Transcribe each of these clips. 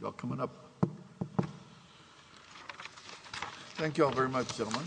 You're coming up. Thank you all very much, gentlemen.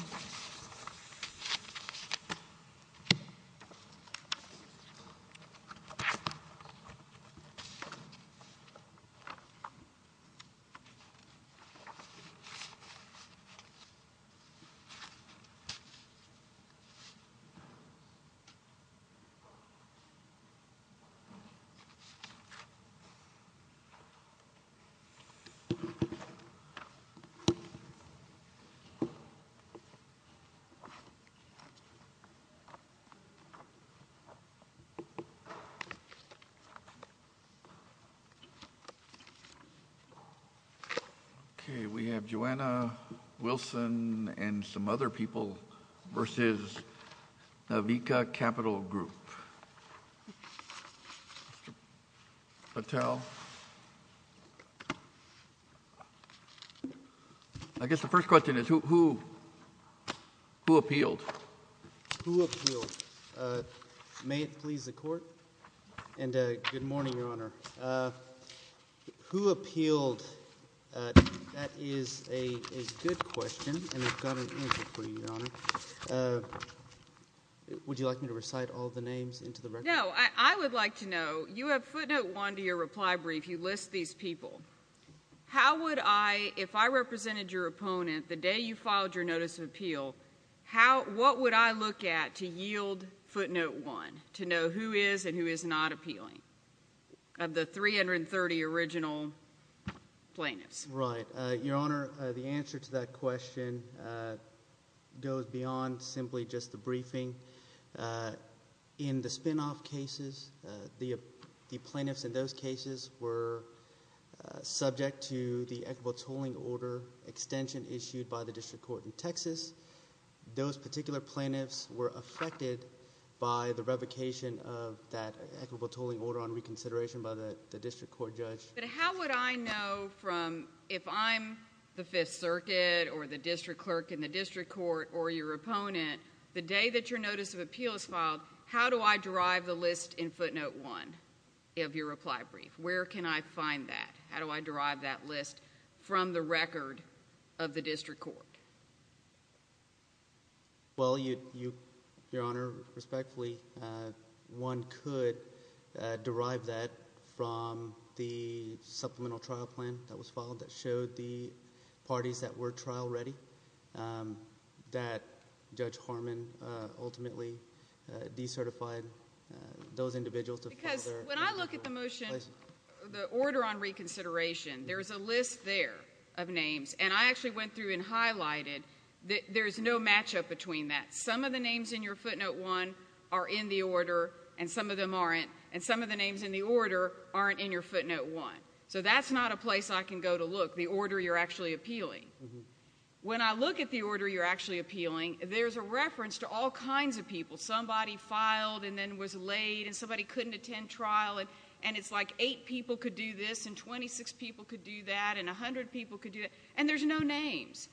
Okay, we have Joanna Wilson and some other people v. Navika Capital Group. Mr. Patel. I guess the first question is, who appealed? Who appealed? May it please the Court? And good morning, Your Honor. Who appealed? That is a good question, and I've got an answer for you, Your Honor. Would you like me to recite all the names into the record? No. I would like to know, you have footnote one to your reply brief. You list these people. How would I, if I represented your opponent the day you filed your notice of appeal, what would I look at to yield footnote one to know who is and who is not appealing of the 330 original plaintiffs? Right. Your Honor, the answer to that question goes beyond simply just the briefing. In the spinoff cases, the plaintiffs in those cases were subject to the equitable tolling order extension issued by the district court in Texas. Those particular plaintiffs were affected by the revocation of that equitable tolling order on reconsideration by the district court judge. But how would I know from, if I'm the Fifth Circuit or the district clerk in the district court or your opponent, the day that your notice of appeal is filed, how do I derive the list in footnote one of your reply brief? Where can I find that? How do I derive that list from the record of the district court? Well, your Honor, respectfully, one could derive that from the supplemental trial plan that was filed that showed the parties that were trial ready, that Judge Harmon ultimately decertified those individuals to file their... Because when I look at the motion, the order on reconsideration, there's a list there of there's no matchup between that. Some of the names in your footnote one are in the order and some of them aren't, and some of the names in the order aren't in your footnote one. So that's not a place I can go to look, the order you're actually appealing. When I look at the order you're actually appealing, there's a reference to all kinds of people. Somebody filed and then was laid and somebody couldn't attend trial and it's like eight people could do this and 26 people could do that and 100 people could do that, and there's no names.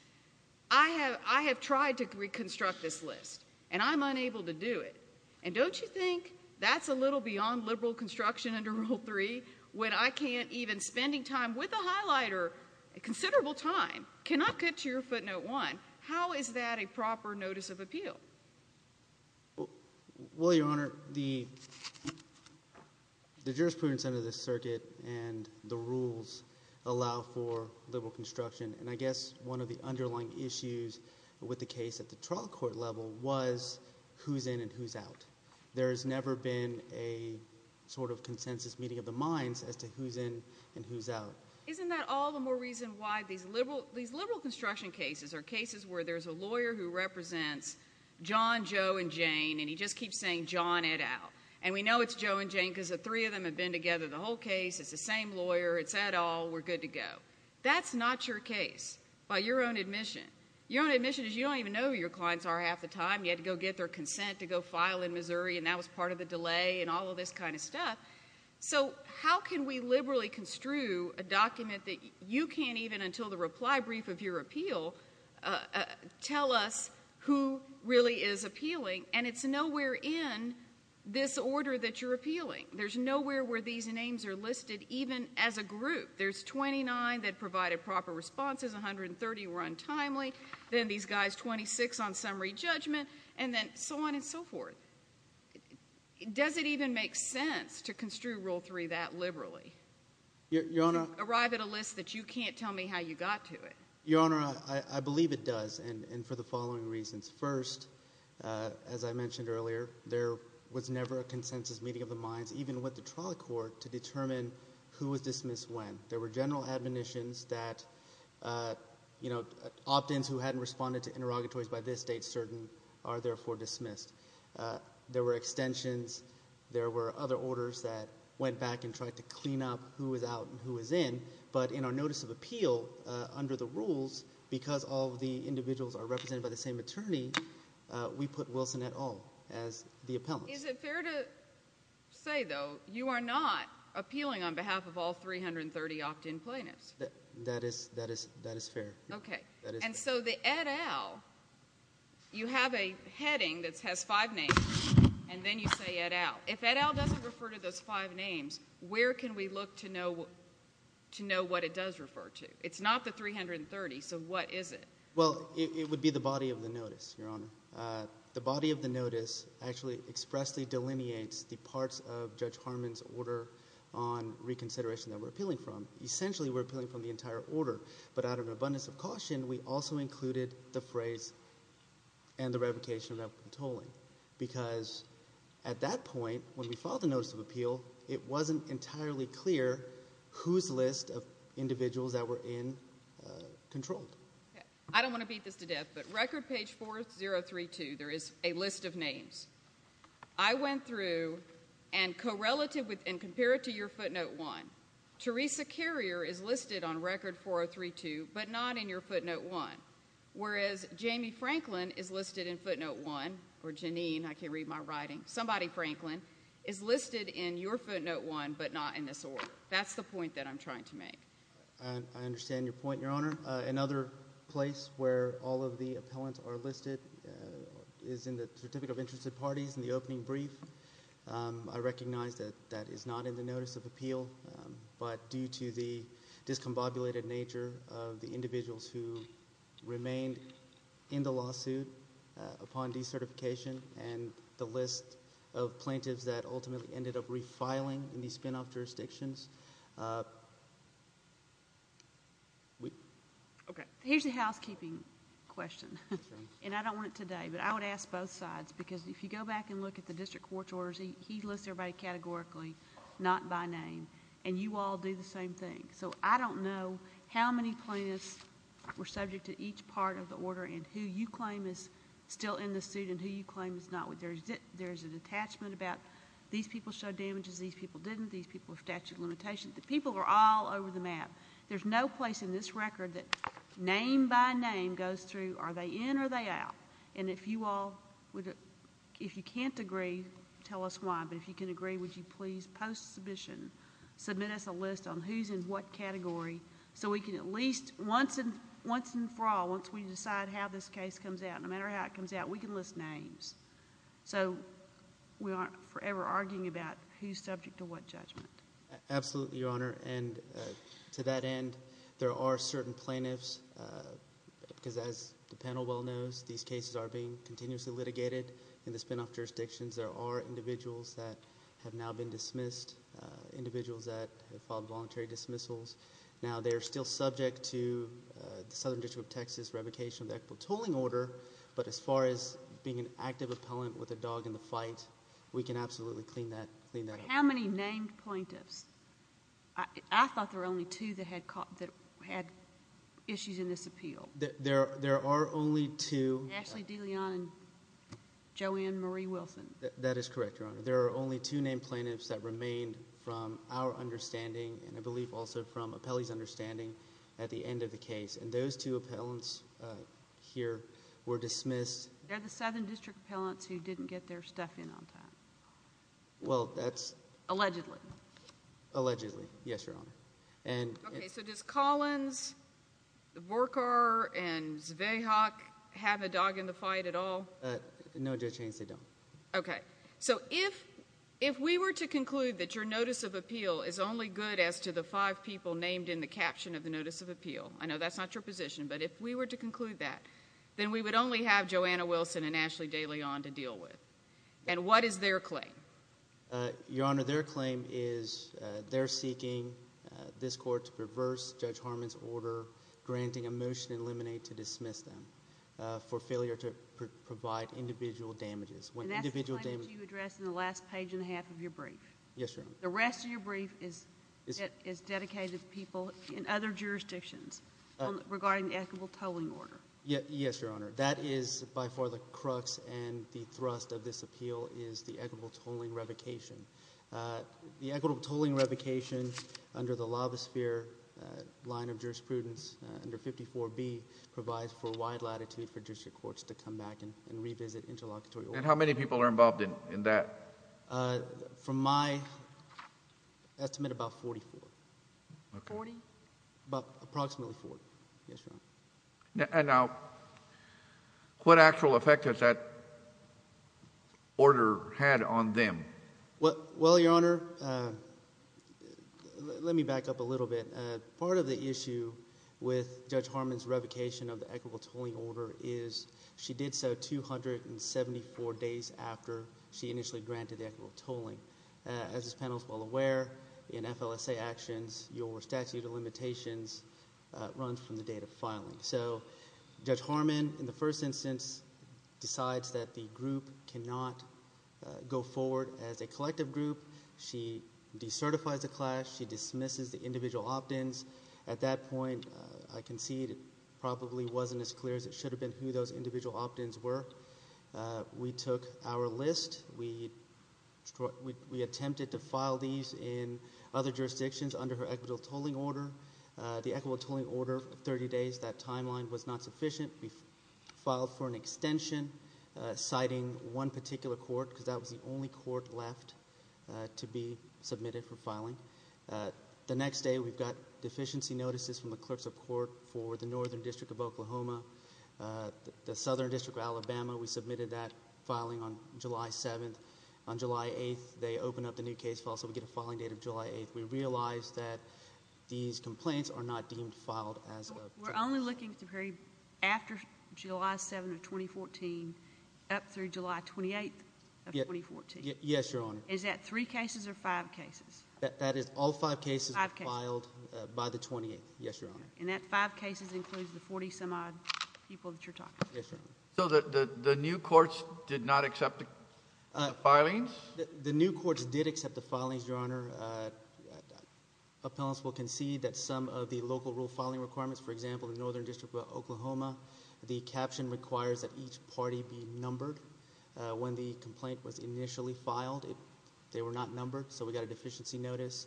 I have tried to reconstruct this list, and I'm unable to do it. And don't you think that's a little beyond liberal construction under rule three when I can't even, spending time with a highlighter, considerable time, cannot get to your footnote one? How is that a proper notice of appeal? Well, Your Honor, the jurisprudence under this circuit and the rules allow for liberal construction, and I guess one of the underlying issues with the case at the trial court level was who's in and who's out. There has never been a sort of consensus meeting of the minds as to who's in and who's out. Isn't that all the more reason why these liberal construction cases are cases where there's a lawyer who represents John, Joe, and Jane, and he just keeps saying, John, Ed, out. And we know it's Joe and Jane because the three of them have been together the whole case. It's the same lawyer. It's Ed, all. We're good to go. That's not your case by your own admission. Your own admission is you don't even know who your clients are half the time. You had to go get their consent to go file in Missouri, and that was part of the delay and all of this kind of stuff. So how can we liberally construe a document that you can't even, until the reply brief of your appeal, tell us who really is appealing, and it's nowhere in this order that you're appealing. There's nowhere where these names are listed, even as a group. There's 29 that provided proper responses, 130 were untimely, then these guys, 26 on summary judgment, and then so on and so forth. Does it even make sense to construe Rule 3 that liberally? Your Honor? Arrive at a list that you can't tell me how you got to it. Your Honor, I believe it does, and for the following reasons. First, as I mentioned earlier, there was never a consensus meeting of the minds, even with the trial court, to determine who was dismissed when. There were general admonitions that, you know, opt-ins who hadn't responded to interrogatories by this date, certain, are therefore dismissed. There were extensions. There were other orders that went back and tried to clean up who was out and who was in, but in our notice of appeal, under the rules, because all of the individuals are represented by the same attorney, we put Wilson et al. as the appellant. Is it fair to say, though, you are not appealing on behalf of all 330 opt-in plaintiffs? That is fair. Okay. And so the et al., you have a heading that has five names, and then you say et al. If et al. doesn't refer to those five names, where can we look to know what it does refer to? It's not the 330, so what is it? Well, it would be the body of the notice, Your Honor. The body of the notice actually expressly delineates the parts of Judge Harmon's order on reconsideration that we're appealing from. Essentially, we're appealing from the entire order, but out of an abundance of caution, we also included the phrase and the revocation of that controlling, because at that point, when we filed the notice of appeal, it wasn't entirely clear whose list of individuals that were in controlled. I don't want to beat this to death, but record page 4032, there is a list of names. I went through and compared it to your footnote one. Teresa Carrier is listed on record 4032, but not in your footnote one, whereas Jamie Franklin is listed in footnote one, or Janine, I can't read my writing. Somebody Franklin is listed in your footnote one, but not in this order. That's the point that I'm trying to make. I understand your point, Your Honor. Another place where all of the appellants are listed is in the Certificate of Interested Parties in the opening brief. I recognize that that is not in the notice of appeal, but due to the discombobulated nature of the individuals who remained in the lawsuit upon decertification and the list of plaintiffs that ultimately ended up refiling in these spinoff jurisdictions... Here's a housekeeping question, and I don't want it today, but I would ask both sides, because if you go back and look at the district court's orders, he lists everybody categorically, not by name, and you all do the same thing. I don't know how many plaintiffs were subject to each part of the order and who you claim is still in the suit and who you claim is not. There is an attachment about these people showed damages, these people didn't, these people have statute of limitations. The people are all over the map. There's no place in this record that name by name goes through are they in or they out. If you can't agree, tell us why, but if you can agree, would you please post submission, submit us a list on who's in what category so we can at least once and for all, once we decide how this case comes out, no matter how it comes out, we can list names so we aren't forever arguing about who's subject to what judgment. Absolutely, Your Honor, and to that end, there are certain plaintiffs, because as the panel well knows, these cases are being continuously litigated in the spinoff jurisdictions. There are individuals that have now been dismissed, individuals that have filed voluntary dismissals. Now they are still subject to the Southern District of Texas revocation of the equitable tolling order, but as far as being an active appellant with a dog in the fight, we can absolutely clean that up. How many named plaintiffs? I thought there were only two that had issues in this appeal. There are only two. Ashley DeLeon and Joanne Marie Wilson. That is correct, Your Honor. There are only two named plaintiffs that remained from our understanding and I believe also from appellee's understanding at the end of the case, and those two appellants here were dismissed. They're the Southern District appellants who didn't get their stuff in on time. Well, that's... Allegedly. Allegedly, yes, Your Honor. Okay, so does Collins, Vorkar, and Zweihach have a dog in the fight at all? No, Judge Haynes, they don't. Okay, so if we were to conclude that your notice of appeal is only good as to the five people named in the caption of the notice of appeal, I know that's not your position, but if we were to conclude that, then we would only have Joanna Wilson and Ashley DeLeon to deal with, and what is their claim? Your Honor, their claim is they're seeking this court to perverse Judge Harmon's order, granting a motion in limine to dismiss them for failure to provide individual damages. And that's the claim that you addressed in the last page and a half of your brief. Yes, Your Honor. The rest of your brief is dedicated to people in other jurisdictions regarding the equitable tolling order. Yes, Your Honor. That is by far the crux and the thrust of this appeal is the equitable tolling revocation. The equitable tolling revocation under the law of the sphere line of jurisprudence under 54B provides for wide latitude for judicial courts to come back and revisit interlocutory orders. And how many people are involved in that? From my estimate, about 44. Forty? Approximately four. Yes, Your Honor. Now, what actual effect has that order had on them? Well, Your Honor, let me back up a little bit. Part of the issue with Judge Harmon's revocation of the equitable tolling order is she did so 274 days after she initially granted the equitable tolling. As this panel is well aware, in FLSA actions, your statute of limitations runs from the date of filing. So Judge Harmon, in the first instance, decides that the group cannot go forward as a collective group. She decertifies the class. She dismisses the individual opt-ins. At that point, I concede, it probably wasn't as clear as it should have been who those individual opt-ins were. We took our list. We attempted to file these in other jurisdictions under her equitable tolling order. The equitable tolling order, 30 days, that timeline was not sufficient. We filed for an extension citing one particular court, because that was the only court left to be submitted for filing. The next day, we got deficiency notices from the clerks of court for the Northern District of Oklahoma, the Southern District of Alabama. We submitted that filing on July 7th. On July 8th, they opened up the new case file, so we get a filing date of July 8th. We realize that these complaints are not deemed filed as of July 8th. We're only looking at the period after July 7th of 2014 up through July 28th of 2014? Yes, Your Honor. Is that three cases or five cases? That is all five cases filed by the 28th, yes, Your Honor. And that five cases includes the 40-some-odd people that you're talking about? Yes, Your Honor. So the new courts did not accept the filings? The new courts did accept the filings, Your Honor. Appellants will concede that some of the local rule filing requirements, for example, the Northern District of Oklahoma, the caption requires that each party be numbered when the complaint was initially filed. They were not numbered, so we got a deficiency notice.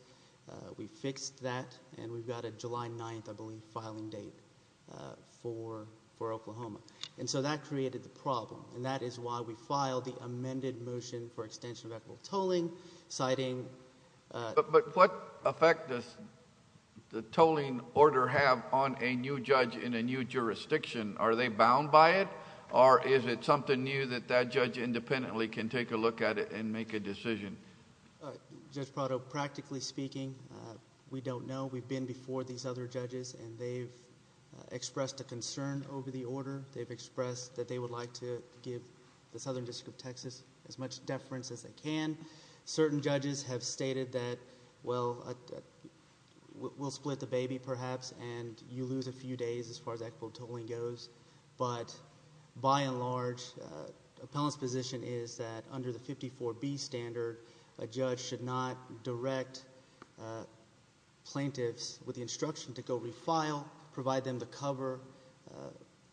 We fixed that, and we've got a July 9th, I believe, filing date for Oklahoma. And so that created the problem, and that is why we filed the amended motion for extension of equitable tolling, citing... But what effect does the tolling order have on a new judge in a new jurisdiction? Are they bound by it, or is it something new that that judge independently can take a look at it and make a decision? Judge Prado, practically speaking, we don't know. We've been before these other judges, and they've expressed a concern over the order. They've expressed that they would like to give the Southern District of Texas as much deference as they can. Certain judges have stated that, well, we'll split the baby perhaps, and you lose a few days as far as equitable tolling goes. But by and large, the appellant's position is that under the 54B standard, a judge should not direct plaintiffs with the instruction to go refile, provide them the cover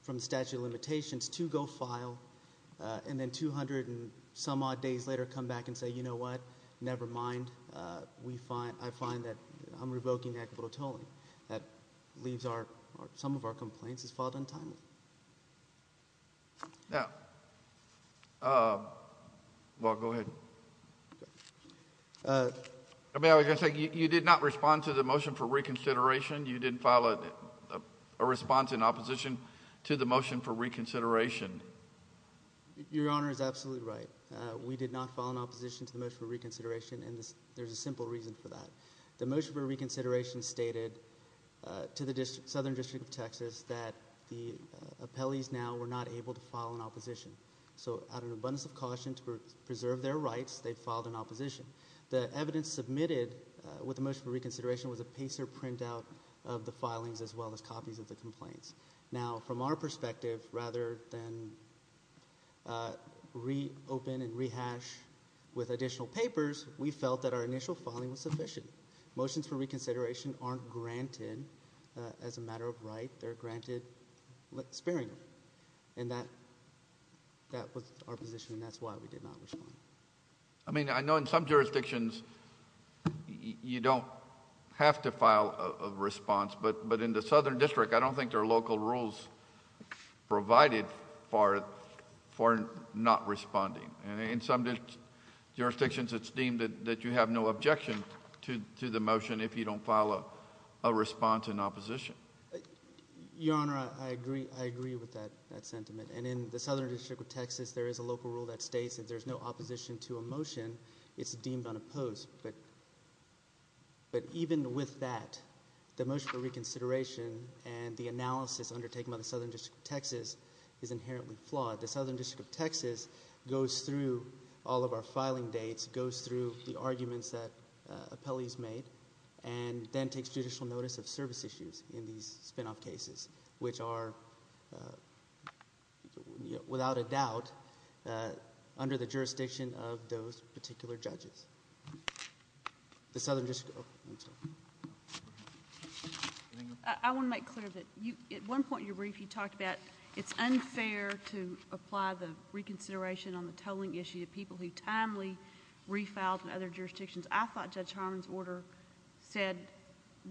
from the statute of limitations to go file, and then 200 and some odd days later come back and say, you know what, never mind. I find that I'm revoking equitable tolling. That leaves some of our complaints as filed untimely. Now... well, go ahead. You did not respond to the motion for reconsideration. You didn't file a response in opposition to the motion for reconsideration. Your Honor is absolutely right. We did not file an opposition to the motion for reconsideration, and there's a simple reason for that. The motion for reconsideration stated to the Southern District of Texas that the appellees now were not able to file an opposition. So out of an abundance of caution to preserve their rights, they filed an opposition. The evidence submitted with the motion for reconsideration was a pacer printout of the filings as well as copies of the complaints. Now, from our perspective, rather than reopen and rehash with additional papers, we felt that our initial filing was sufficient. Motions for reconsideration aren't granted as a matter of right. They're granted sparingly, and that was our position, and that's why we did not respond. I mean, I know in some jurisdictions you don't have to file a response, but in the Southern District, I don't think there are local rules provided for not responding. In some jurisdictions, it's deemed that you have no objection to the motion if you don't file a response in opposition. Your Honor, I agree with that sentiment. And in the Southern District of Texas, there is a local rule that states if there's no opposition to a motion, it's deemed unopposed. But even with that, the motion for reconsideration and the analysis undertaken by the Southern District of Texas is inherently flawed. The Southern District of Texas goes through all of our filing dates, goes through the arguments that appellees made, and then takes judicial notice of service issues in these spinoff cases, which are, without a doubt, under the jurisdiction of those particular judges. The Southern District of Texas. I want to make clear that at one point in your brief you talked about it's unfair to apply the reconsideration on the tolling issue to people who timely refiled in other jurisdictions. I thought Judge Harmon's order said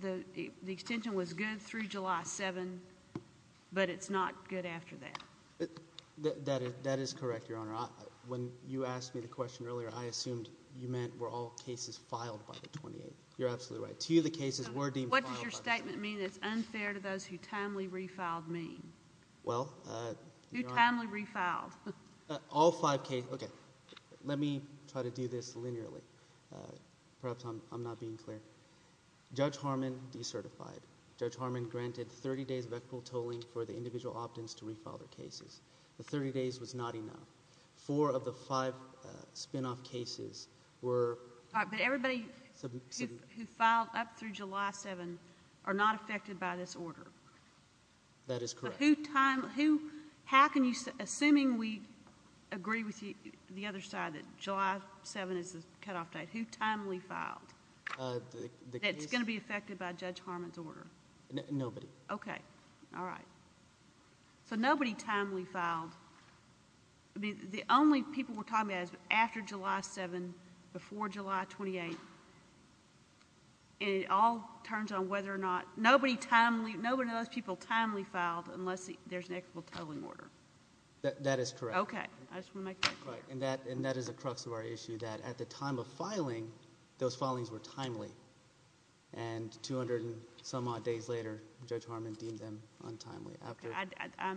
the extension was good through July 7, but it's not good after that. That is correct, Your Honor. When you asked me the question earlier, I assumed you meant were all cases filed by the 28th. You're absolutely right. To you, the cases were deemed filed by the 28th. What does your statement mean that it's unfair to those who timely refiled mean? Well, Your Honor— Who timely refiled. All five cases. Okay. Let me try to do this linearly. Perhaps I'm not being clear. Judge Harmon decertified. Judge Harmon granted 30 days of equitable tolling for the individual opt-ins to refile their cases. The 30 days was not enough. Four of the five spinoff cases were— But everybody who filed up through July 7 are not affected by this order. That is correct. Assuming we agree with the other side that July 7 is the cutoff date, who timely filed? The case— That's going to be affected by Judge Harmon's order? Nobody. Okay. All right. So nobody timely filed. The only people we're talking about is after July 7, before July 28. And it all turns on whether or not—nobody timely—nobody of those people timely filed unless there's an equitable tolling order. That is correct. Okay. I just want to make that clear. And that is the crux of our issue, that at the time of filing, those filings were timely. And 200 and some odd days later, Judge Harmon deemed them untimely. I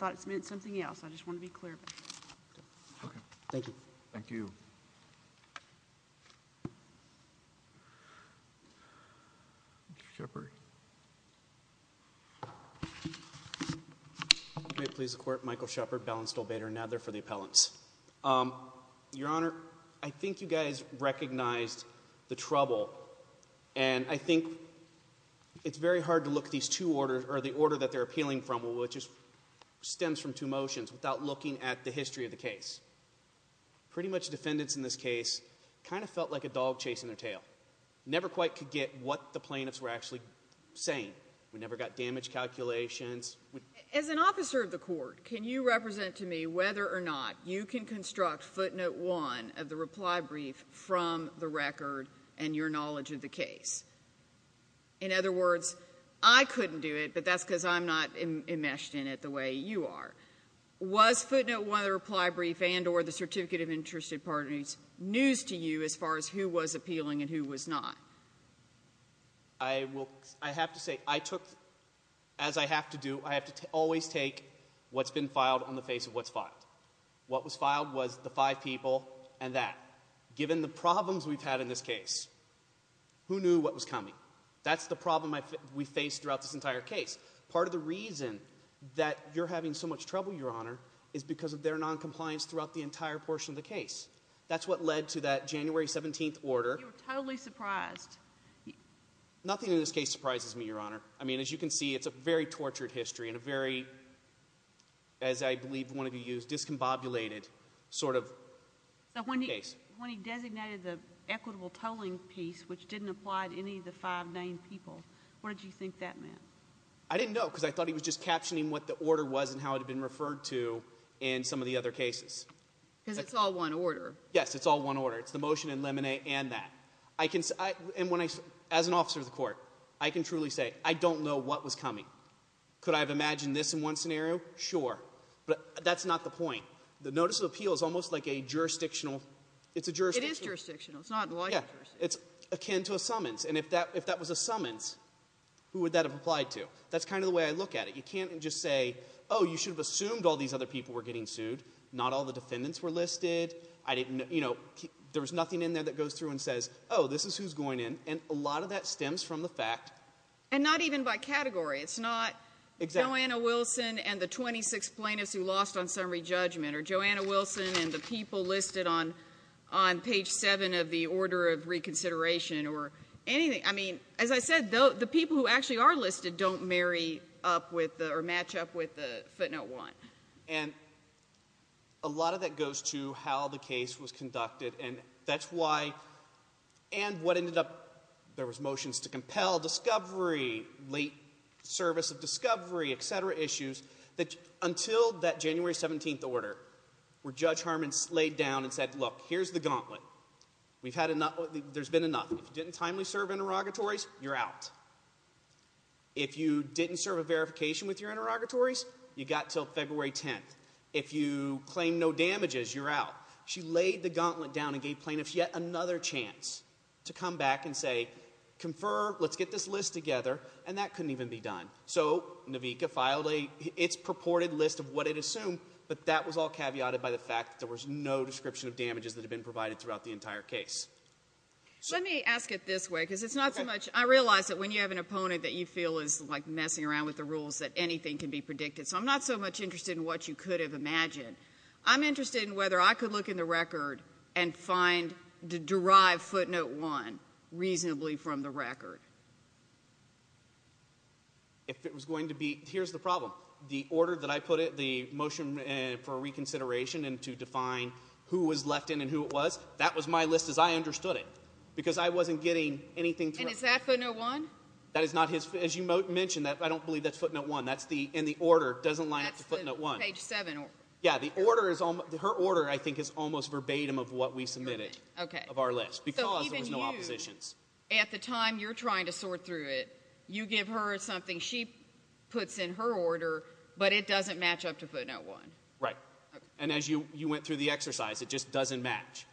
thought it meant something else. I just want to be clear about that. Okay. Thank you. Thank you. Thank you. Mr. Shepard. Great. Please acquit Michael Shepard, Bell and Stolbader, and Nadler for the appellants. Your Honor, I think you guys recognized the trouble. And I think it's very hard to look at these two orders or the order that they're appealing from, which stems from two motions, without looking at the history of the case. Pretty much defendants in this case kind of felt like a dog chasing their tail, never quite could get what the plaintiffs were actually saying. We never got damage calculations. As an officer of the court, can you represent to me whether or not you can construct footnote one of the reply brief from the record and your knowledge of the case? In other words, I couldn't do it, but that's because I'm not enmeshed in it the way you are. Was footnote one of the reply brief and or the certificate of interest news to you as far as who was appealing and who was not? I have to say, I took, as I have to do, I have to always take what's been filed on the face of what's filed. What was filed was the five people and that. Given the problems we've had in this case, who knew what was coming? That's the problem we faced throughout this entire case. Part of the reason that you're having so much trouble, Your Honor, is because of their noncompliance throughout the entire portion of the case. That's what led to that January 17th order. You were totally surprised. Nothing in this case surprises me, Your Honor. I mean, as you can see, it's a very tortured history and a very, as I believe one of you used, discombobulated sort of case. When he designated the equitable tolling piece, which didn't apply to any of the five named people, what did you think that meant? I didn't know, because I thought he was just captioning what the order was and how it had been referred to in some of the other cases. Because it's all one order. Yes, it's all one order. It's the motion and lemonade and that. As an officer of the court, I can truly say, I don't know what was coming. Could I have imagined this in one scenario? Sure. But that's not the point. The notice of appeal is almost like a jurisdictional, it's a jurisdiction. It is jurisdictional. It's not like a jurisdiction. It's akin to a summons. And if that was a summons, who would that have applied to? That's kind of the way I look at it. You can't just say, oh, you should have assumed all these other people were getting sued. Not all the defendants were listed. There was nothing in there that goes through and says, oh, this is who's going in. And a lot of that stems from the fact. And not even by category. It's not Joanna Wilson and the 26 plaintiffs who lost on summary judgment. Or Joanna Wilson and the people listed on page 7 of the order of reconsideration. Or anything. I mean, as I said, the people who actually are listed don't match up with the footnote 1. And a lot of that goes to how the case was conducted. And that's why. And what ended up. There was motions to compel discovery, late service of discovery, et cetera, issues. Until that January 17th order, where Judge Harmon laid down and said, look, here's the gauntlet. There's been enough. If you didn't timely serve interrogatories, you're out. If you didn't serve a verification with your interrogatories, you got until February 10th. If you claim no damages, you're out. She laid the gauntlet down and gave plaintiffs yet another chance to come back and say, confer, let's get this list together. And that couldn't even be done. So, NAVICA filed its purported list of what it assumed. But that was all caveated by the fact that there was no description of damages that had been provided throughout the entire case. Let me ask it this way. Because it's not so much. I realize that when you have an opponent that you feel is, like, messing around with the rules, that anything can be predicted. So I'm not so much interested in what you could have imagined. I'm interested in whether I could look in the record and find, derive footnote one reasonably from the record. If it was going to be, here's the problem. The order that I put it, the motion for reconsideration and to define who was left in and who it was, that was my list as I understood it. Because I wasn't getting anything through. And is that footnote one? That is not his, as you mentioned, I don't believe that's footnote one. That's the, and the order doesn't line up to footnote one. That's the page seven order. Yeah, the order is, her order, I think, is almost verbatim of what we submitted of our list because there was no oppositions. So even you, at the time you're trying to sort through it, you give her something, she puts in her order, but it doesn't match up to footnote one. Right. And as you went through the exercise, it just doesn't match.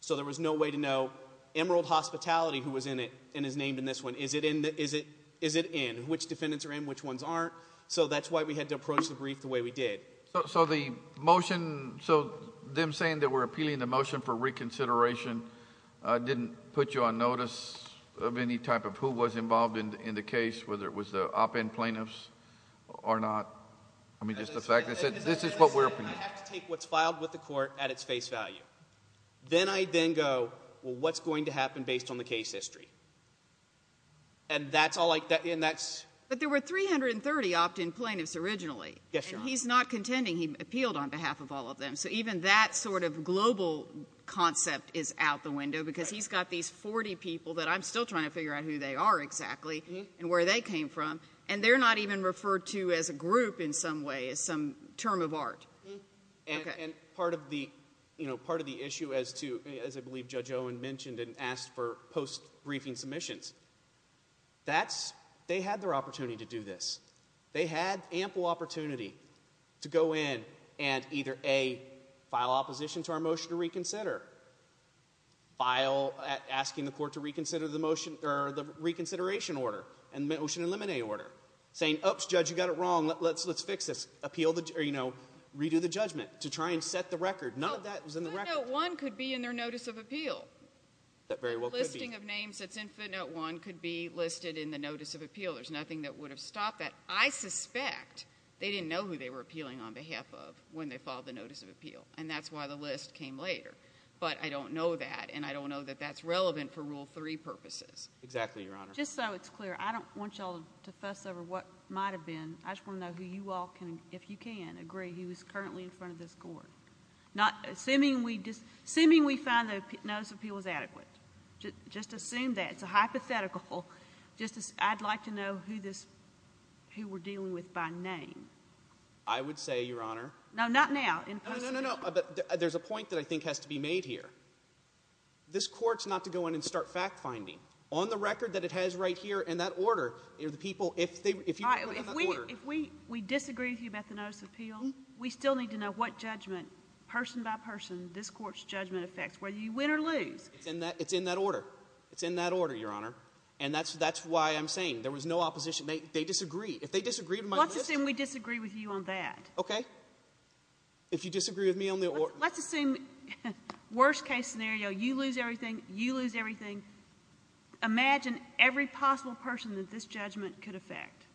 So there was no way to know, Emerald Hospitality, who was in it and is named in this one, is it in? Which defendants are in, which ones aren't? So that's why we had to approach the brief the way we did. So the motion, so them saying that we're appealing the motion for reconsideration didn't put you on notice of any type of who was involved in the case, whether it was the opt-in plaintiffs or not? I mean, just the fact that this is what we're. I have to take what's filed with the court at its face value. Then I then go, well, what's going to happen based on the case history? And that's all I, and that's. But there were 330 opt-in plaintiffs originally. Yes, Your Honor. And he's not contending. He appealed on behalf of all of them. So even that sort of global concept is out the window because he's got these 40 people that I'm still trying to figure out who they are exactly and where they came from. And they're not even referred to as a group in some way, as some term of art. And part of the issue as to, as I believe Judge Owen mentioned and asked for post-briefing submissions, that's, they had their opportunity to do this. They had ample opportunity to go in and either, A, file opposition to our motion to reconsider, file asking the court to reconsider the motion or the reconsideration order and the motion in limine order, saying, oops, Judge, you got it wrong. Let's fix this. Appeal the, or, you know, redo the judgment to try and set the record. None of that was in the record. Footnote 1 could be in their notice of appeal. That very well could be. That listing of names that's in footnote 1 could be listed in the notice of appeal. There's nothing that would have stopped that. I suspect they didn't know who they were appealing on behalf of when they filed the notice of appeal. And that's why the list came later. But I don't know that, and I don't know that that's relevant for Rule 3 purposes. Exactly, Your Honor. Just so it's clear, I don't want you all to fuss over what might have been. I just want to know who you all can, if you can, agree he was currently in front of this court. Assuming we find the notice of appeal was adequate. Just assume that. It's a hypothetical. I'd like to know who this, who we're dealing with by name. I would say, Your Honor. No, not now. No, no, no, no. There's a point that I think has to be made here. This court's not to go in and start fact-finding. On the record that it has right here in that order, the people, if you put it in that order. If we disagree with you about the notice of appeal, we still need to know what judgment, person by person, this court's judgment affects, whether you win or lose. It's in that order. It's in that order, Your Honor. And that's why I'm saying there was no opposition. They disagree. If they disagree with my list. Let's assume we disagree with you on that. Okay. If you disagree with me on the order. Let's assume, worst case scenario, you lose everything, you lose everything. Imagine every possible person that this judgment could affect.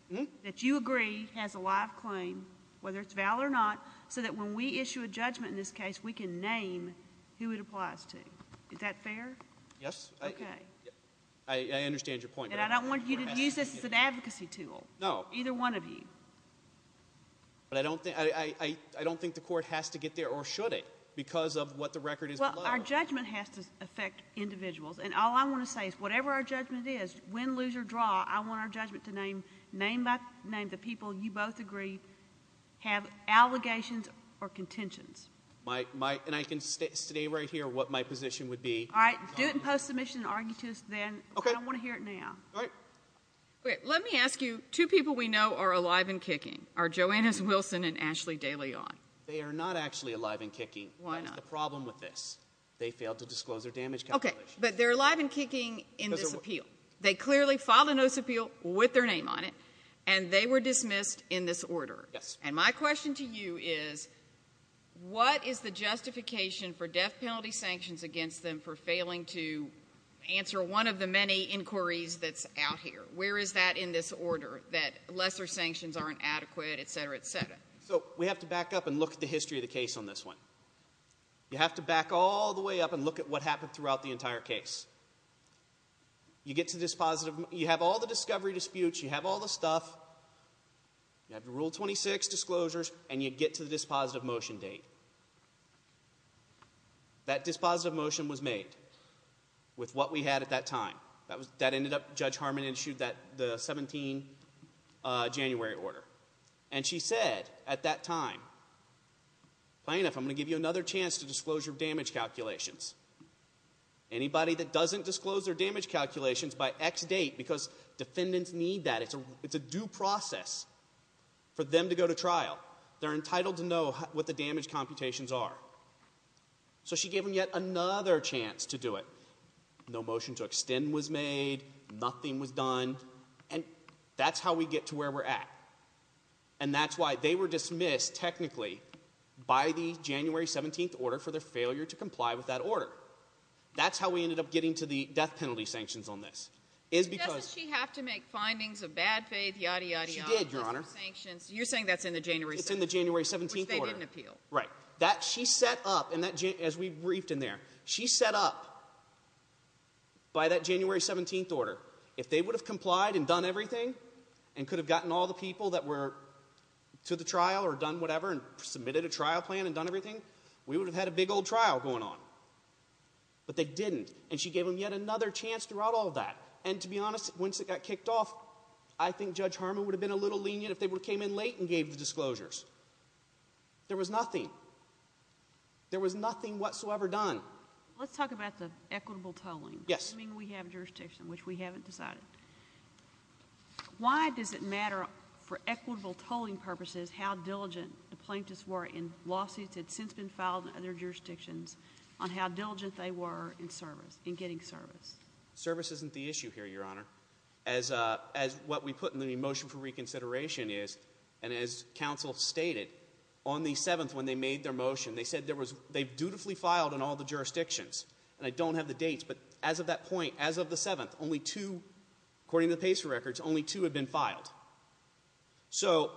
That you agree has a live claim, whether it's valid or not, so that when we issue a judgment in this case, we can name who it applies to. Is that fair? Yes. Okay. I understand your point. And I don't want you to use this as an advocacy tool. No. Either one of you. But I don't think the court has to get there, or should it, because of what the record is below. Well, our judgment has to affect individuals. And all I want to say is whatever our judgment is, win, lose, or draw, I want our judgment to name the people you both agree have allegations or contentions. And I can state right here what my position would be. All right. Do it in post-submission and argue to us then. Okay. I don't want to hear it now. All right. Let me ask you, two people we know are alive and kicking. Are Joanna Wilson and Ashley DeLeon. They are not actually alive and kicking. Why not? That's the problem with this. They failed to disclose their damage calculations. Okay. But they're alive and kicking in this appeal. They clearly filed a notice of appeal with their name on it, and they were dismissed in this order. Yes. And my question to you is, what is the justification for death penalty sanctions against them for failing to answer one of the many inquiries that's out here? Where is that in this order, that lesser sanctions aren't adequate, et cetera, et cetera? So we have to back up and look at the history of the case on this one. You have to back all the way up and look at what happened throughout the entire case. You get to this positive. You have all the discovery disputes. You have all the stuff. You have the Rule 26 disclosures, and you get to the dispositive motion date. That dispositive motion was made with what we had at that time. That ended up Judge Harmon issued the 17 January order. And she said at that time, plain enough, I'm going to give you another chance to disclose your damage calculations. Anybody that doesn't disclose their damage calculations by X date because defendants need that. It's a due process for them to go to trial. They're entitled to know what the damage computations are. So she gave them yet another chance to do it. No motion to extend was made. Nothing was done. And that's how we get to where we're at. And that's why they were dismissed technically by the January 17 order for their failure to comply with that order. That's how we ended up getting to the death penalty sanctions on this. Doesn't she have to make findings of bad faith, yada, yada, yada? She did, Your Honor. You're saying that's in the January 17 order, which they didn't appeal. Right. She set up, as we briefed in there, she set up by that January 17 order, if they would have complied and done everything and could have gotten all the people that were to the trial or done whatever and submitted a trial plan and done everything, we would have had a big old trial going on. But they didn't. And she gave them yet another chance throughout all that. And to be honest, once it got kicked off, I think Judge Harmon would have been a little lenient if they came in late and gave the disclosures. There was nothing. There was nothing whatsoever done. Let's talk about the equitable tolling. Yes. I mean, we have jurisdiction, which we haven't decided. Why does it matter for equitable tolling purposes how diligent the plaintiffs were in lawsuits that have since been filed in other jurisdictions, on how diligent they were in service, in getting service? Service isn't the issue here, Your Honor. As what we put in the motion for reconsideration is, and as counsel stated, on the 7th when they made their motion, they said they dutifully filed in all the jurisdictions. And I don't have the dates. But as of that point, as of the 7th, only two, according to the PACER records, only two had been filed. So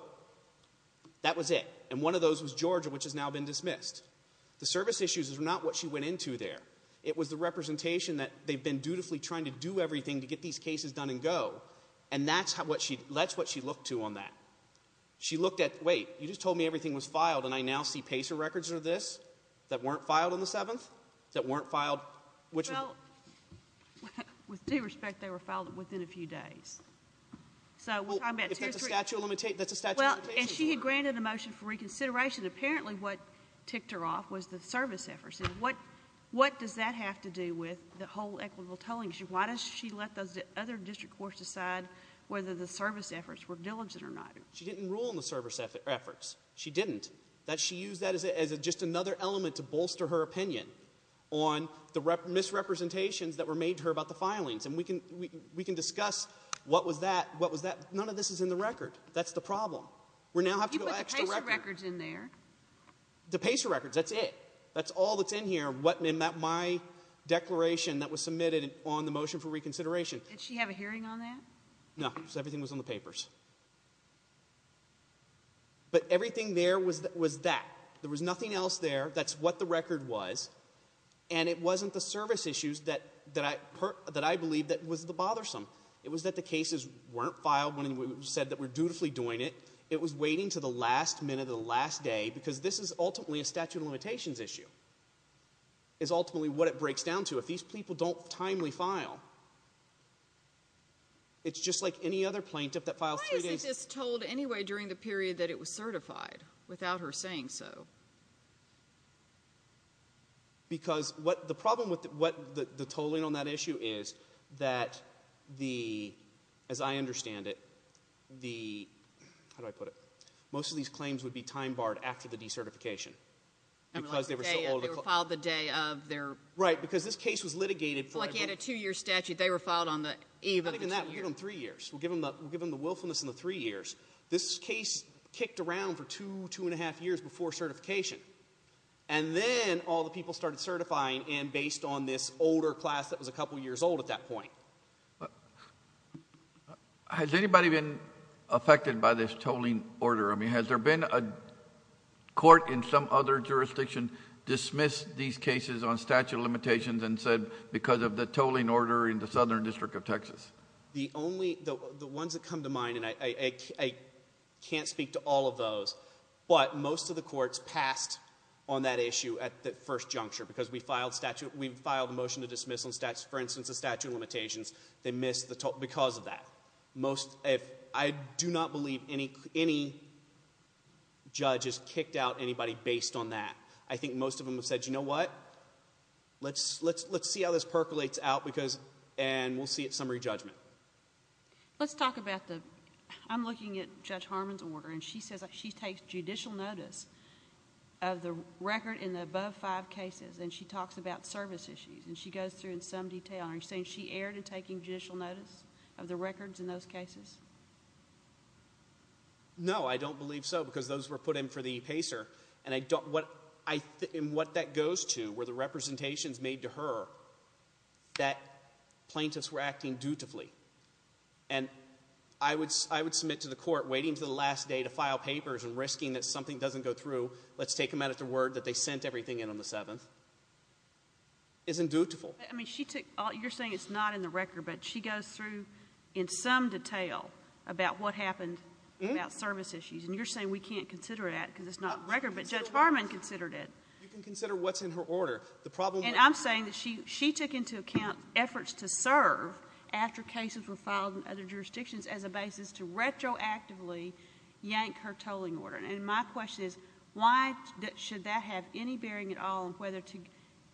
that was it. And one of those was Georgia, which has now been dismissed. The service issues is not what she went into there. It was the representation that they've been dutifully trying to do everything to get these cases done and go. And that's what she looked to on that. She looked at, wait, you just told me everything was filed, and I now see PACER records are this, that weren't filed on the 7th, that weren't filed? Well, with due respect, they were filed within a few days. So we're talking about two or three. Well, if that's a statute of limitations, that's a statute of limitations, Your Honor. Well, and she had granted a motion for reconsideration. Apparently what ticked her off was the service efforts. And what does that have to do with the whole equitable tolling issue? Why does she let those other district courts decide whether the service efforts were diligent or not? She didn't rule on the service efforts. She didn't. She used that as just another element to bolster her opinion on the misrepresentations that were made to her about the filings. And we can discuss what was that. None of this is in the record. That's the problem. You put the PACER records in there. The PACER records, that's it. That's all that's in here, my declaration that was submitted on the motion for reconsideration. Did she have a hearing on that? No, because everything was on the papers. But everything there was that. There was nothing else there. That's what the record was. And it wasn't the service issues that I believe that was the bothersome. It was that the cases weren't filed when we said that we're dutifully doing it. It was waiting to the last minute of the last day, because this is ultimately a statute of limitations issue, is ultimately what it breaks down to. So if these people don't timely file, it's just like any other plaintiff that files three days. Why isn't this told anyway during the period that it was certified without her saying so? Because the problem with the tolling on that issue is that, as I understand it, the – how do I put it? Most of these claims would be time barred after the decertification because they were so old. They were filed the day of their – Right, because this case was litigated for – Like you had a two-year statute. They were filed on the eve of the two years. Other than that, we'll give them three years. We'll give them the willfulness in the three years. This case kicked around for two, two and a half years before certification. And then all the people started certifying based on this older class that was a couple years old at that point. Has anybody been affected by this tolling order? I mean, has there been a court in some other jurisdiction dismissed these cases on statute of limitations and said because of the tolling order in the Southern District of Texas? The only – the ones that come to mind, and I can't speak to all of those, but most of the courts passed on that issue at the first juncture because we filed statute – we filed a motion to dismiss on statute – for instance, the statute of limitations. They missed the – because of that. I do not believe any judge has kicked out anybody based on that. I think most of them have said, you know what, let's see how this percolates out because – and we'll see at summary judgment. Let's talk about the – I'm looking at Judge Harmon's order, and she says she takes judicial notice of the record in the above five cases, and she talks about service issues, and she goes through in some detail. Are you saying she erred in taking judicial notice of the records in those cases? No, I don't believe so because those were put in for the PACER, and what that goes to were the representations made to her that plaintiffs were acting dutifully. And I would submit to the court waiting until the last day to file papers and risking that something doesn't go through. Let's take them out at the word that they sent everything in on the 7th. Isn't dutiful. I mean, she took – you're saying it's not in the record, but she goes through in some detail about what happened about service issues, and you're saying we can't consider that because it's not in the record, but Judge Harmon considered it. You can consider what's in her order. And I'm saying that she took into account efforts to serve after cases were filed in other jurisdictions as a basis to retroactively yank her tolling order. And my question is why should that have any bearing at all on whether to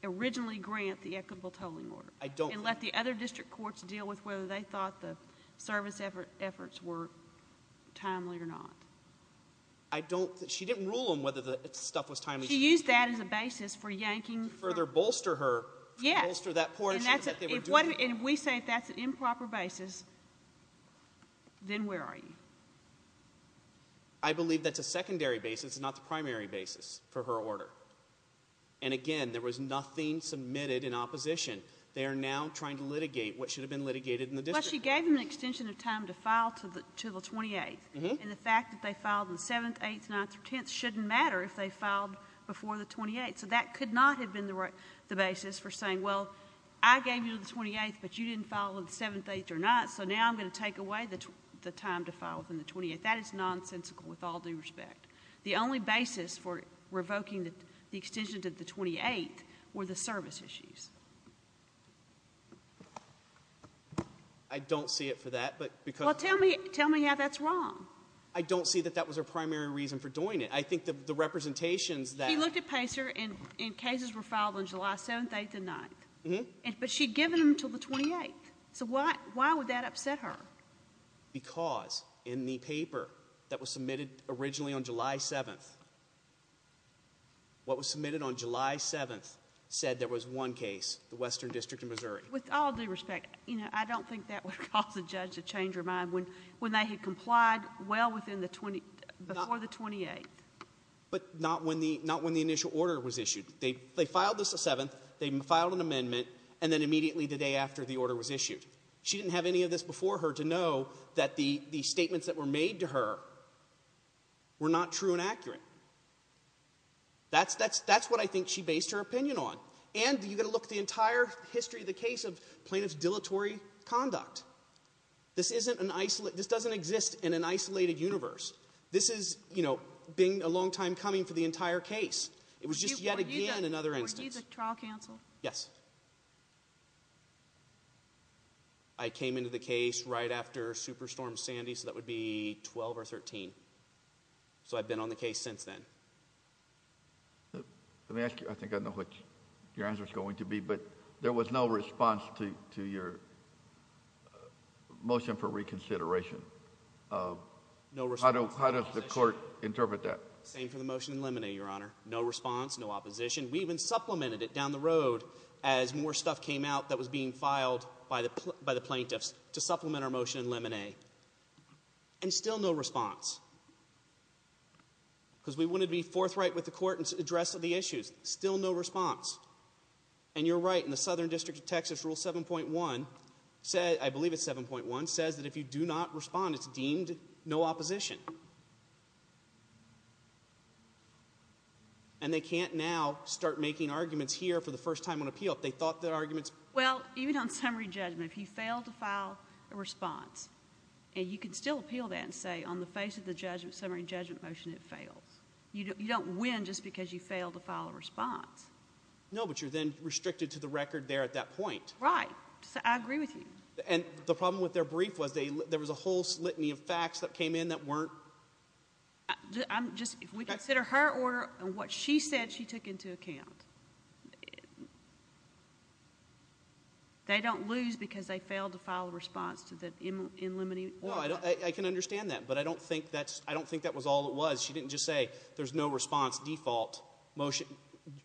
originally grant the equitable tolling order and let the other district courts deal with whether they thought the service efforts were timely or not? She didn't rule on whether the stuff was timely. She used that as a basis for yanking. To further bolster her, to bolster that poor issue that they were doing. And we say if that's an improper basis, then where are you? I believe that's a secondary basis, not the primary basis for her order. And, again, there was nothing submitted in opposition. They are now trying to litigate what should have been litigated in the district. Well, she gave them an extension of time to file to the 28th, and the fact that they filed on the 7th, 8th, 9th, or 10th shouldn't matter if they filed before the 28th. So that could not have been the basis for saying, well, I gave you the 28th, but you didn't file on the 7th, 8th, or 9th, so now I'm going to take away the time to file within the 28th. That is nonsensical with all due respect. The only basis for revoking the extension to the 28th were the service issues. I don't see it for that, but because— Well, tell me how that's wrong. I don't see that that was her primary reason for doing it. I think the representations that— She looked at PACER, and cases were filed on July 7th, 8th, and 9th. But she had given them until the 28th. So why would that upset her? Because in the paper that was submitted originally on July 7th, what was submitted on July 7th said there was one case, the Western District of Missouri. With all due respect, I don't think that would cause a judge to change her mind when they had complied well before the 28th. But not when the initial order was issued. They filed this the 7th, they filed an amendment, and then immediately the day after the order was issued. She didn't have any of this before her to know that the statements that were made to her were not true and accurate. That's what I think she based her opinion on. And you've got to look at the entire history of the case of plaintiff's dilatory conduct. This doesn't exist in an isolated universe. This has been a long time coming for the entire case. It was just yet again another instance. Were you the trial counsel? Yes. I came into the case right after Superstorm Sandy, so that would be 12 or 13. So I've been on the case since then. Let me ask you, I think I know what your answer is going to be, but there was no response to your motion for reconsideration. No response. How does the court interpret that? Same for the motion in limine, Your Honor. No response, no opposition. We even supplemented it down the road as more stuff came out that was being filed by the plaintiffs to supplement our motion in limine. And still no response. Because we wanted to be forthright with the court and address the issues. Still no response. And you're right, in the Southern District of Texas Rule 7.1, I believe it's 7.1, says that if you do not respond, it's deemed no opposition. And they can't now start making arguments here for the first time on appeal if they thought their arguments ---- Well, even on summary judgment, if you fail to file a response, and you can still appeal that and say on the face of the summary judgment motion it fails. You don't win just because you fail to file a response. No, but you're then restricted to the record there at that point. Right. I agree with you. And the problem with their brief was there was a whole litany of facts that came in that weren't ---- I'm just ---- If we consider her order and what she said she took into account, they don't lose because they failed to file a response to the in limine. I can understand that, but I don't think that was all it was. She didn't just say there's no response default motion.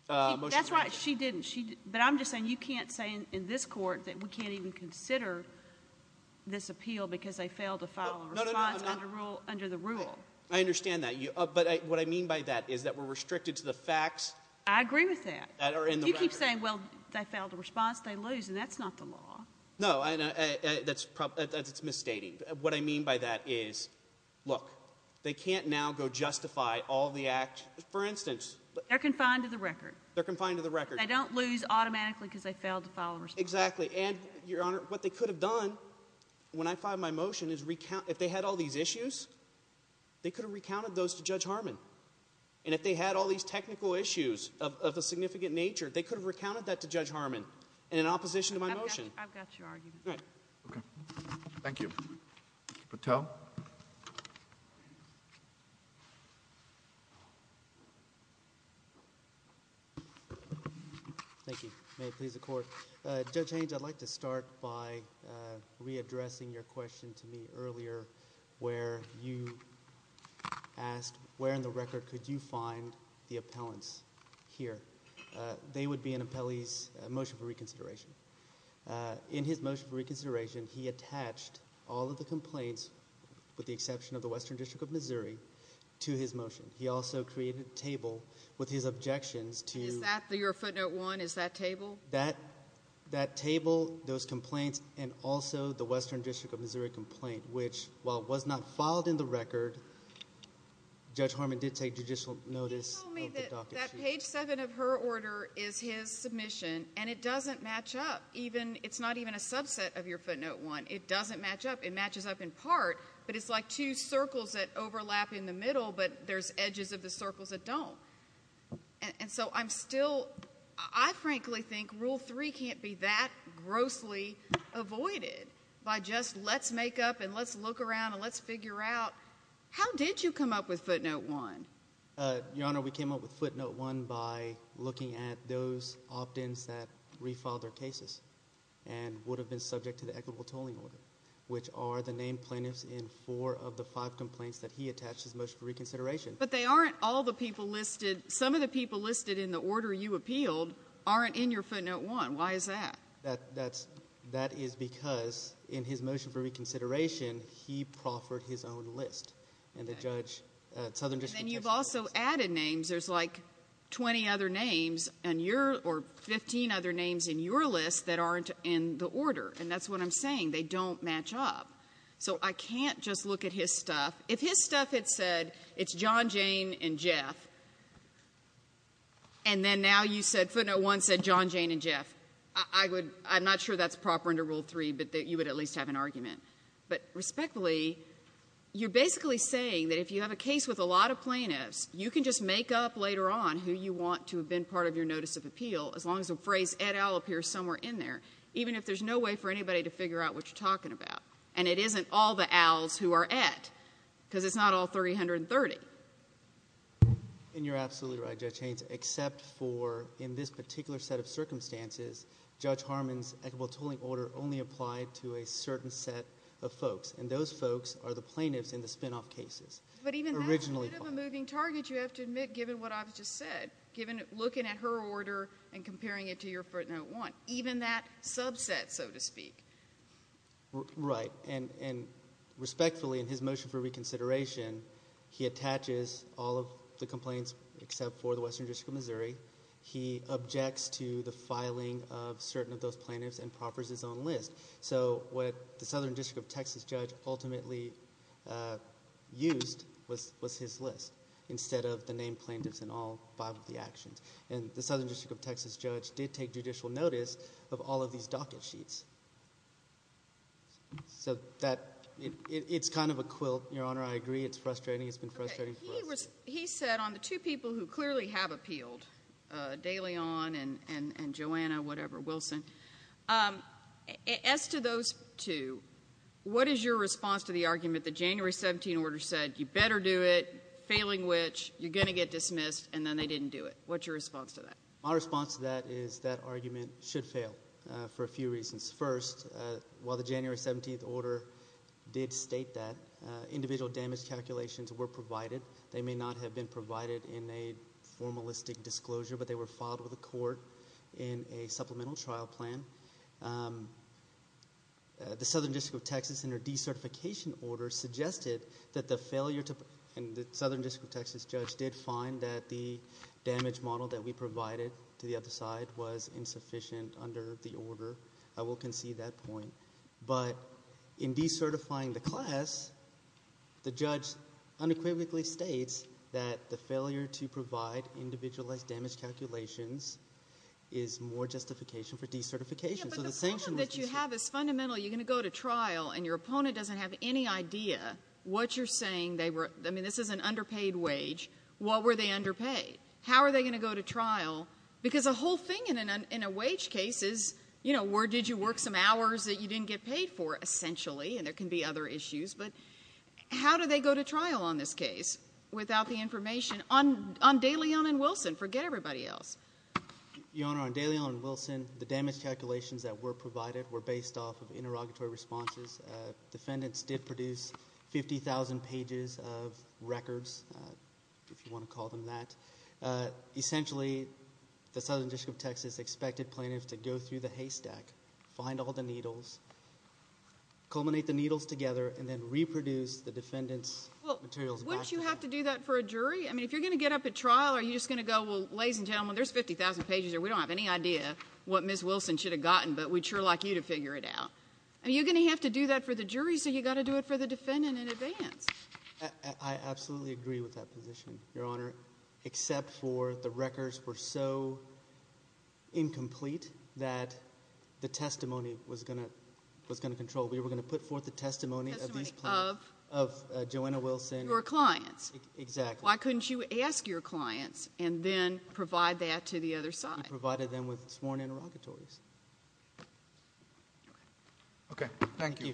That's right. She didn't. But I'm just saying you can't say in this court that we can't even consider this appeal because they failed to file a response under the rule. I understand that. But what I mean by that is that we're restricted to the facts that are in the record. I agree with that. You keep saying, well, they failed to response, they lose, and that's not the law. No, that's misstating. What I mean by that is, look, they can't now go justify all the acts. For instance ---- They're confined to the record. They're confined to the record. They don't lose automatically because they failed to file a response. Exactly. And, Your Honor, what they could have done when I filed my motion is recount. If they had all these issues, they could have recounted those to Judge Harmon. And if they had all these technical issues of a significant nature, they could have recounted that to Judge Harmon in opposition to my motion. I've got your argument. All right. Okay. Thank you. Patel. Thank you. May it please the Court. Judge Haynes, I'd like to start by readdressing your question to me earlier where you asked where in the record could you find the appellants here. They would be in an appellee's motion for reconsideration. In his motion for reconsideration, he attached all of the complaints, with the exception of the Western District of Missouri, to his motion. He also created a table with his objections to ---- Is that your footnote one? Is that table? That table, those complaints, and also the Western District of Missouri complaint, which, while it was not filed in the record, Judge Harmon did take judicial notice of the docket issue. That page seven of her order is his submission, and it doesn't match up. It's not even a subset of your footnote one. It doesn't match up. It matches up in part, but it's like two circles that overlap in the middle, but there's edges of the circles that don't. And so I'm still ---- I frankly think rule three can't be that grossly avoided by just let's make up and let's look around and let's figure out how did you come up with footnote one? Your Honor, we came up with footnote one by looking at those opt-ins that refiled their cases and would have been subject to the equitable tolling order, which are the named plaintiffs in four of the five complaints that he attached to his motion for reconsideration. But they aren't all the people listed. Some of the people listed in the order you appealed aren't in your footnote one. Why is that? That is because in his motion for reconsideration, he proffered his own list. And the judge, Southern District ---- And then you've also added names. There's like 20 other names on your or 15 other names in your list that aren't in the order. And that's what I'm saying. They don't match up. So I can't just look at his stuff. If his stuff had said it's John, Jane, and Jeff, and then now you said footnote one said John, Jane, and Jeff, I would ---- I'm not sure that's proper under rule three, but you would at least have an argument. But respectfully, you're basically saying that if you have a case with a lot of plaintiffs, you can just make up later on who you want to have been part of your notice of appeal as long as the phrase et al. appears somewhere in there, even if there's no way for anybody to figure out what you're talking about. And it isn't all the al's who are et, because it's not all 330. And you're absolutely right, Judge Haynes, except for in this particular set of circumstances, Judge Harmon's equitable tolling order only applied to a certain set of folks. And those folks are the plaintiffs in the spinoff cases. But even that's a bit of a moving target, you have to admit, given what I've just said, looking at her order and comparing it to your footnote one, even that subset, so to speak. Right. And respectfully, in his motion for reconsideration, he attaches all of the complaints except for the Western District of Missouri. He objects to the filing of certain of those plaintiffs and proffers his own list. So what the Southern District of Texas judge ultimately used was his list instead of the name plaintiffs in all five of the actions. And the Southern District of Texas judge did take judicial notice of all of these docket sheets. So that, it's kind of a quilt, Your Honor, I agree. It's frustrating. It's been frustrating for us. He said on the two people who clearly have appealed, DeLeon and Joanna, whatever, Wilson, as to those two, what is your response to the argument that January 17 order said, you better do it, failing which, you're going to get dismissed, and then they didn't do it. What's your response to that? My response to that is that argument should fail for a few reasons. First, while the January 17 order did state that, individual damage calculations were provided. They may not have been provided in a formalistic disclosure, but they were filed with the court in a supplemental trial plan. The Southern District of Texas, in their decertification order, suggested that the failure to, and the Southern District of Texas judge did find that the damage model that we provided to the other side was insufficient under the order. I will concede that point. But in decertifying the class, the judge unequivocally states that the failure to provide individualized damage calculations is more justification for decertification. But the problem that you have is fundamental. You're going to go to trial, and your opponent doesn't have any idea what you're saying. I mean, this is an underpaid wage. What were they underpaid? How are they going to go to trial? Because the whole thing in a wage case is, you know, where did you work some hours that you didn't get paid for, essentially, and there can be other issues, but how do they go to trial on this case without the information? On De Leon and Wilson, forget everybody else. Your Honor, on De Leon and Wilson, the damage calculations that were provided were based off of interrogatory responses. Defendants did produce 50,000 pages of records, if you want to call them that. Essentially, the Southern District of Texas expected plaintiffs to go through the haystack, find all the needles, culminate the needles together, and then reproduce the defendant's materials back to them. Well, wouldn't you have to do that for a jury? I mean, if you're going to get up at trial, are you just going to go, well, ladies and gentlemen, there's 50,000 pages here. We don't have any idea what Ms. Wilson should have gotten, but we'd sure like you to figure it out. Are you going to have to do that for the jury, so you've got to do it for the defendant in advance? I absolutely agree with that position, Your Honor. Except for the records were so incomplete that the testimony was going to control. We were going to put forth the testimony of these plaintiffs. Testimony of? Of Joanna Wilson. Your clients. Exactly. Why couldn't you ask your clients and then provide that to the other side? Okay. Thank you. Thank you.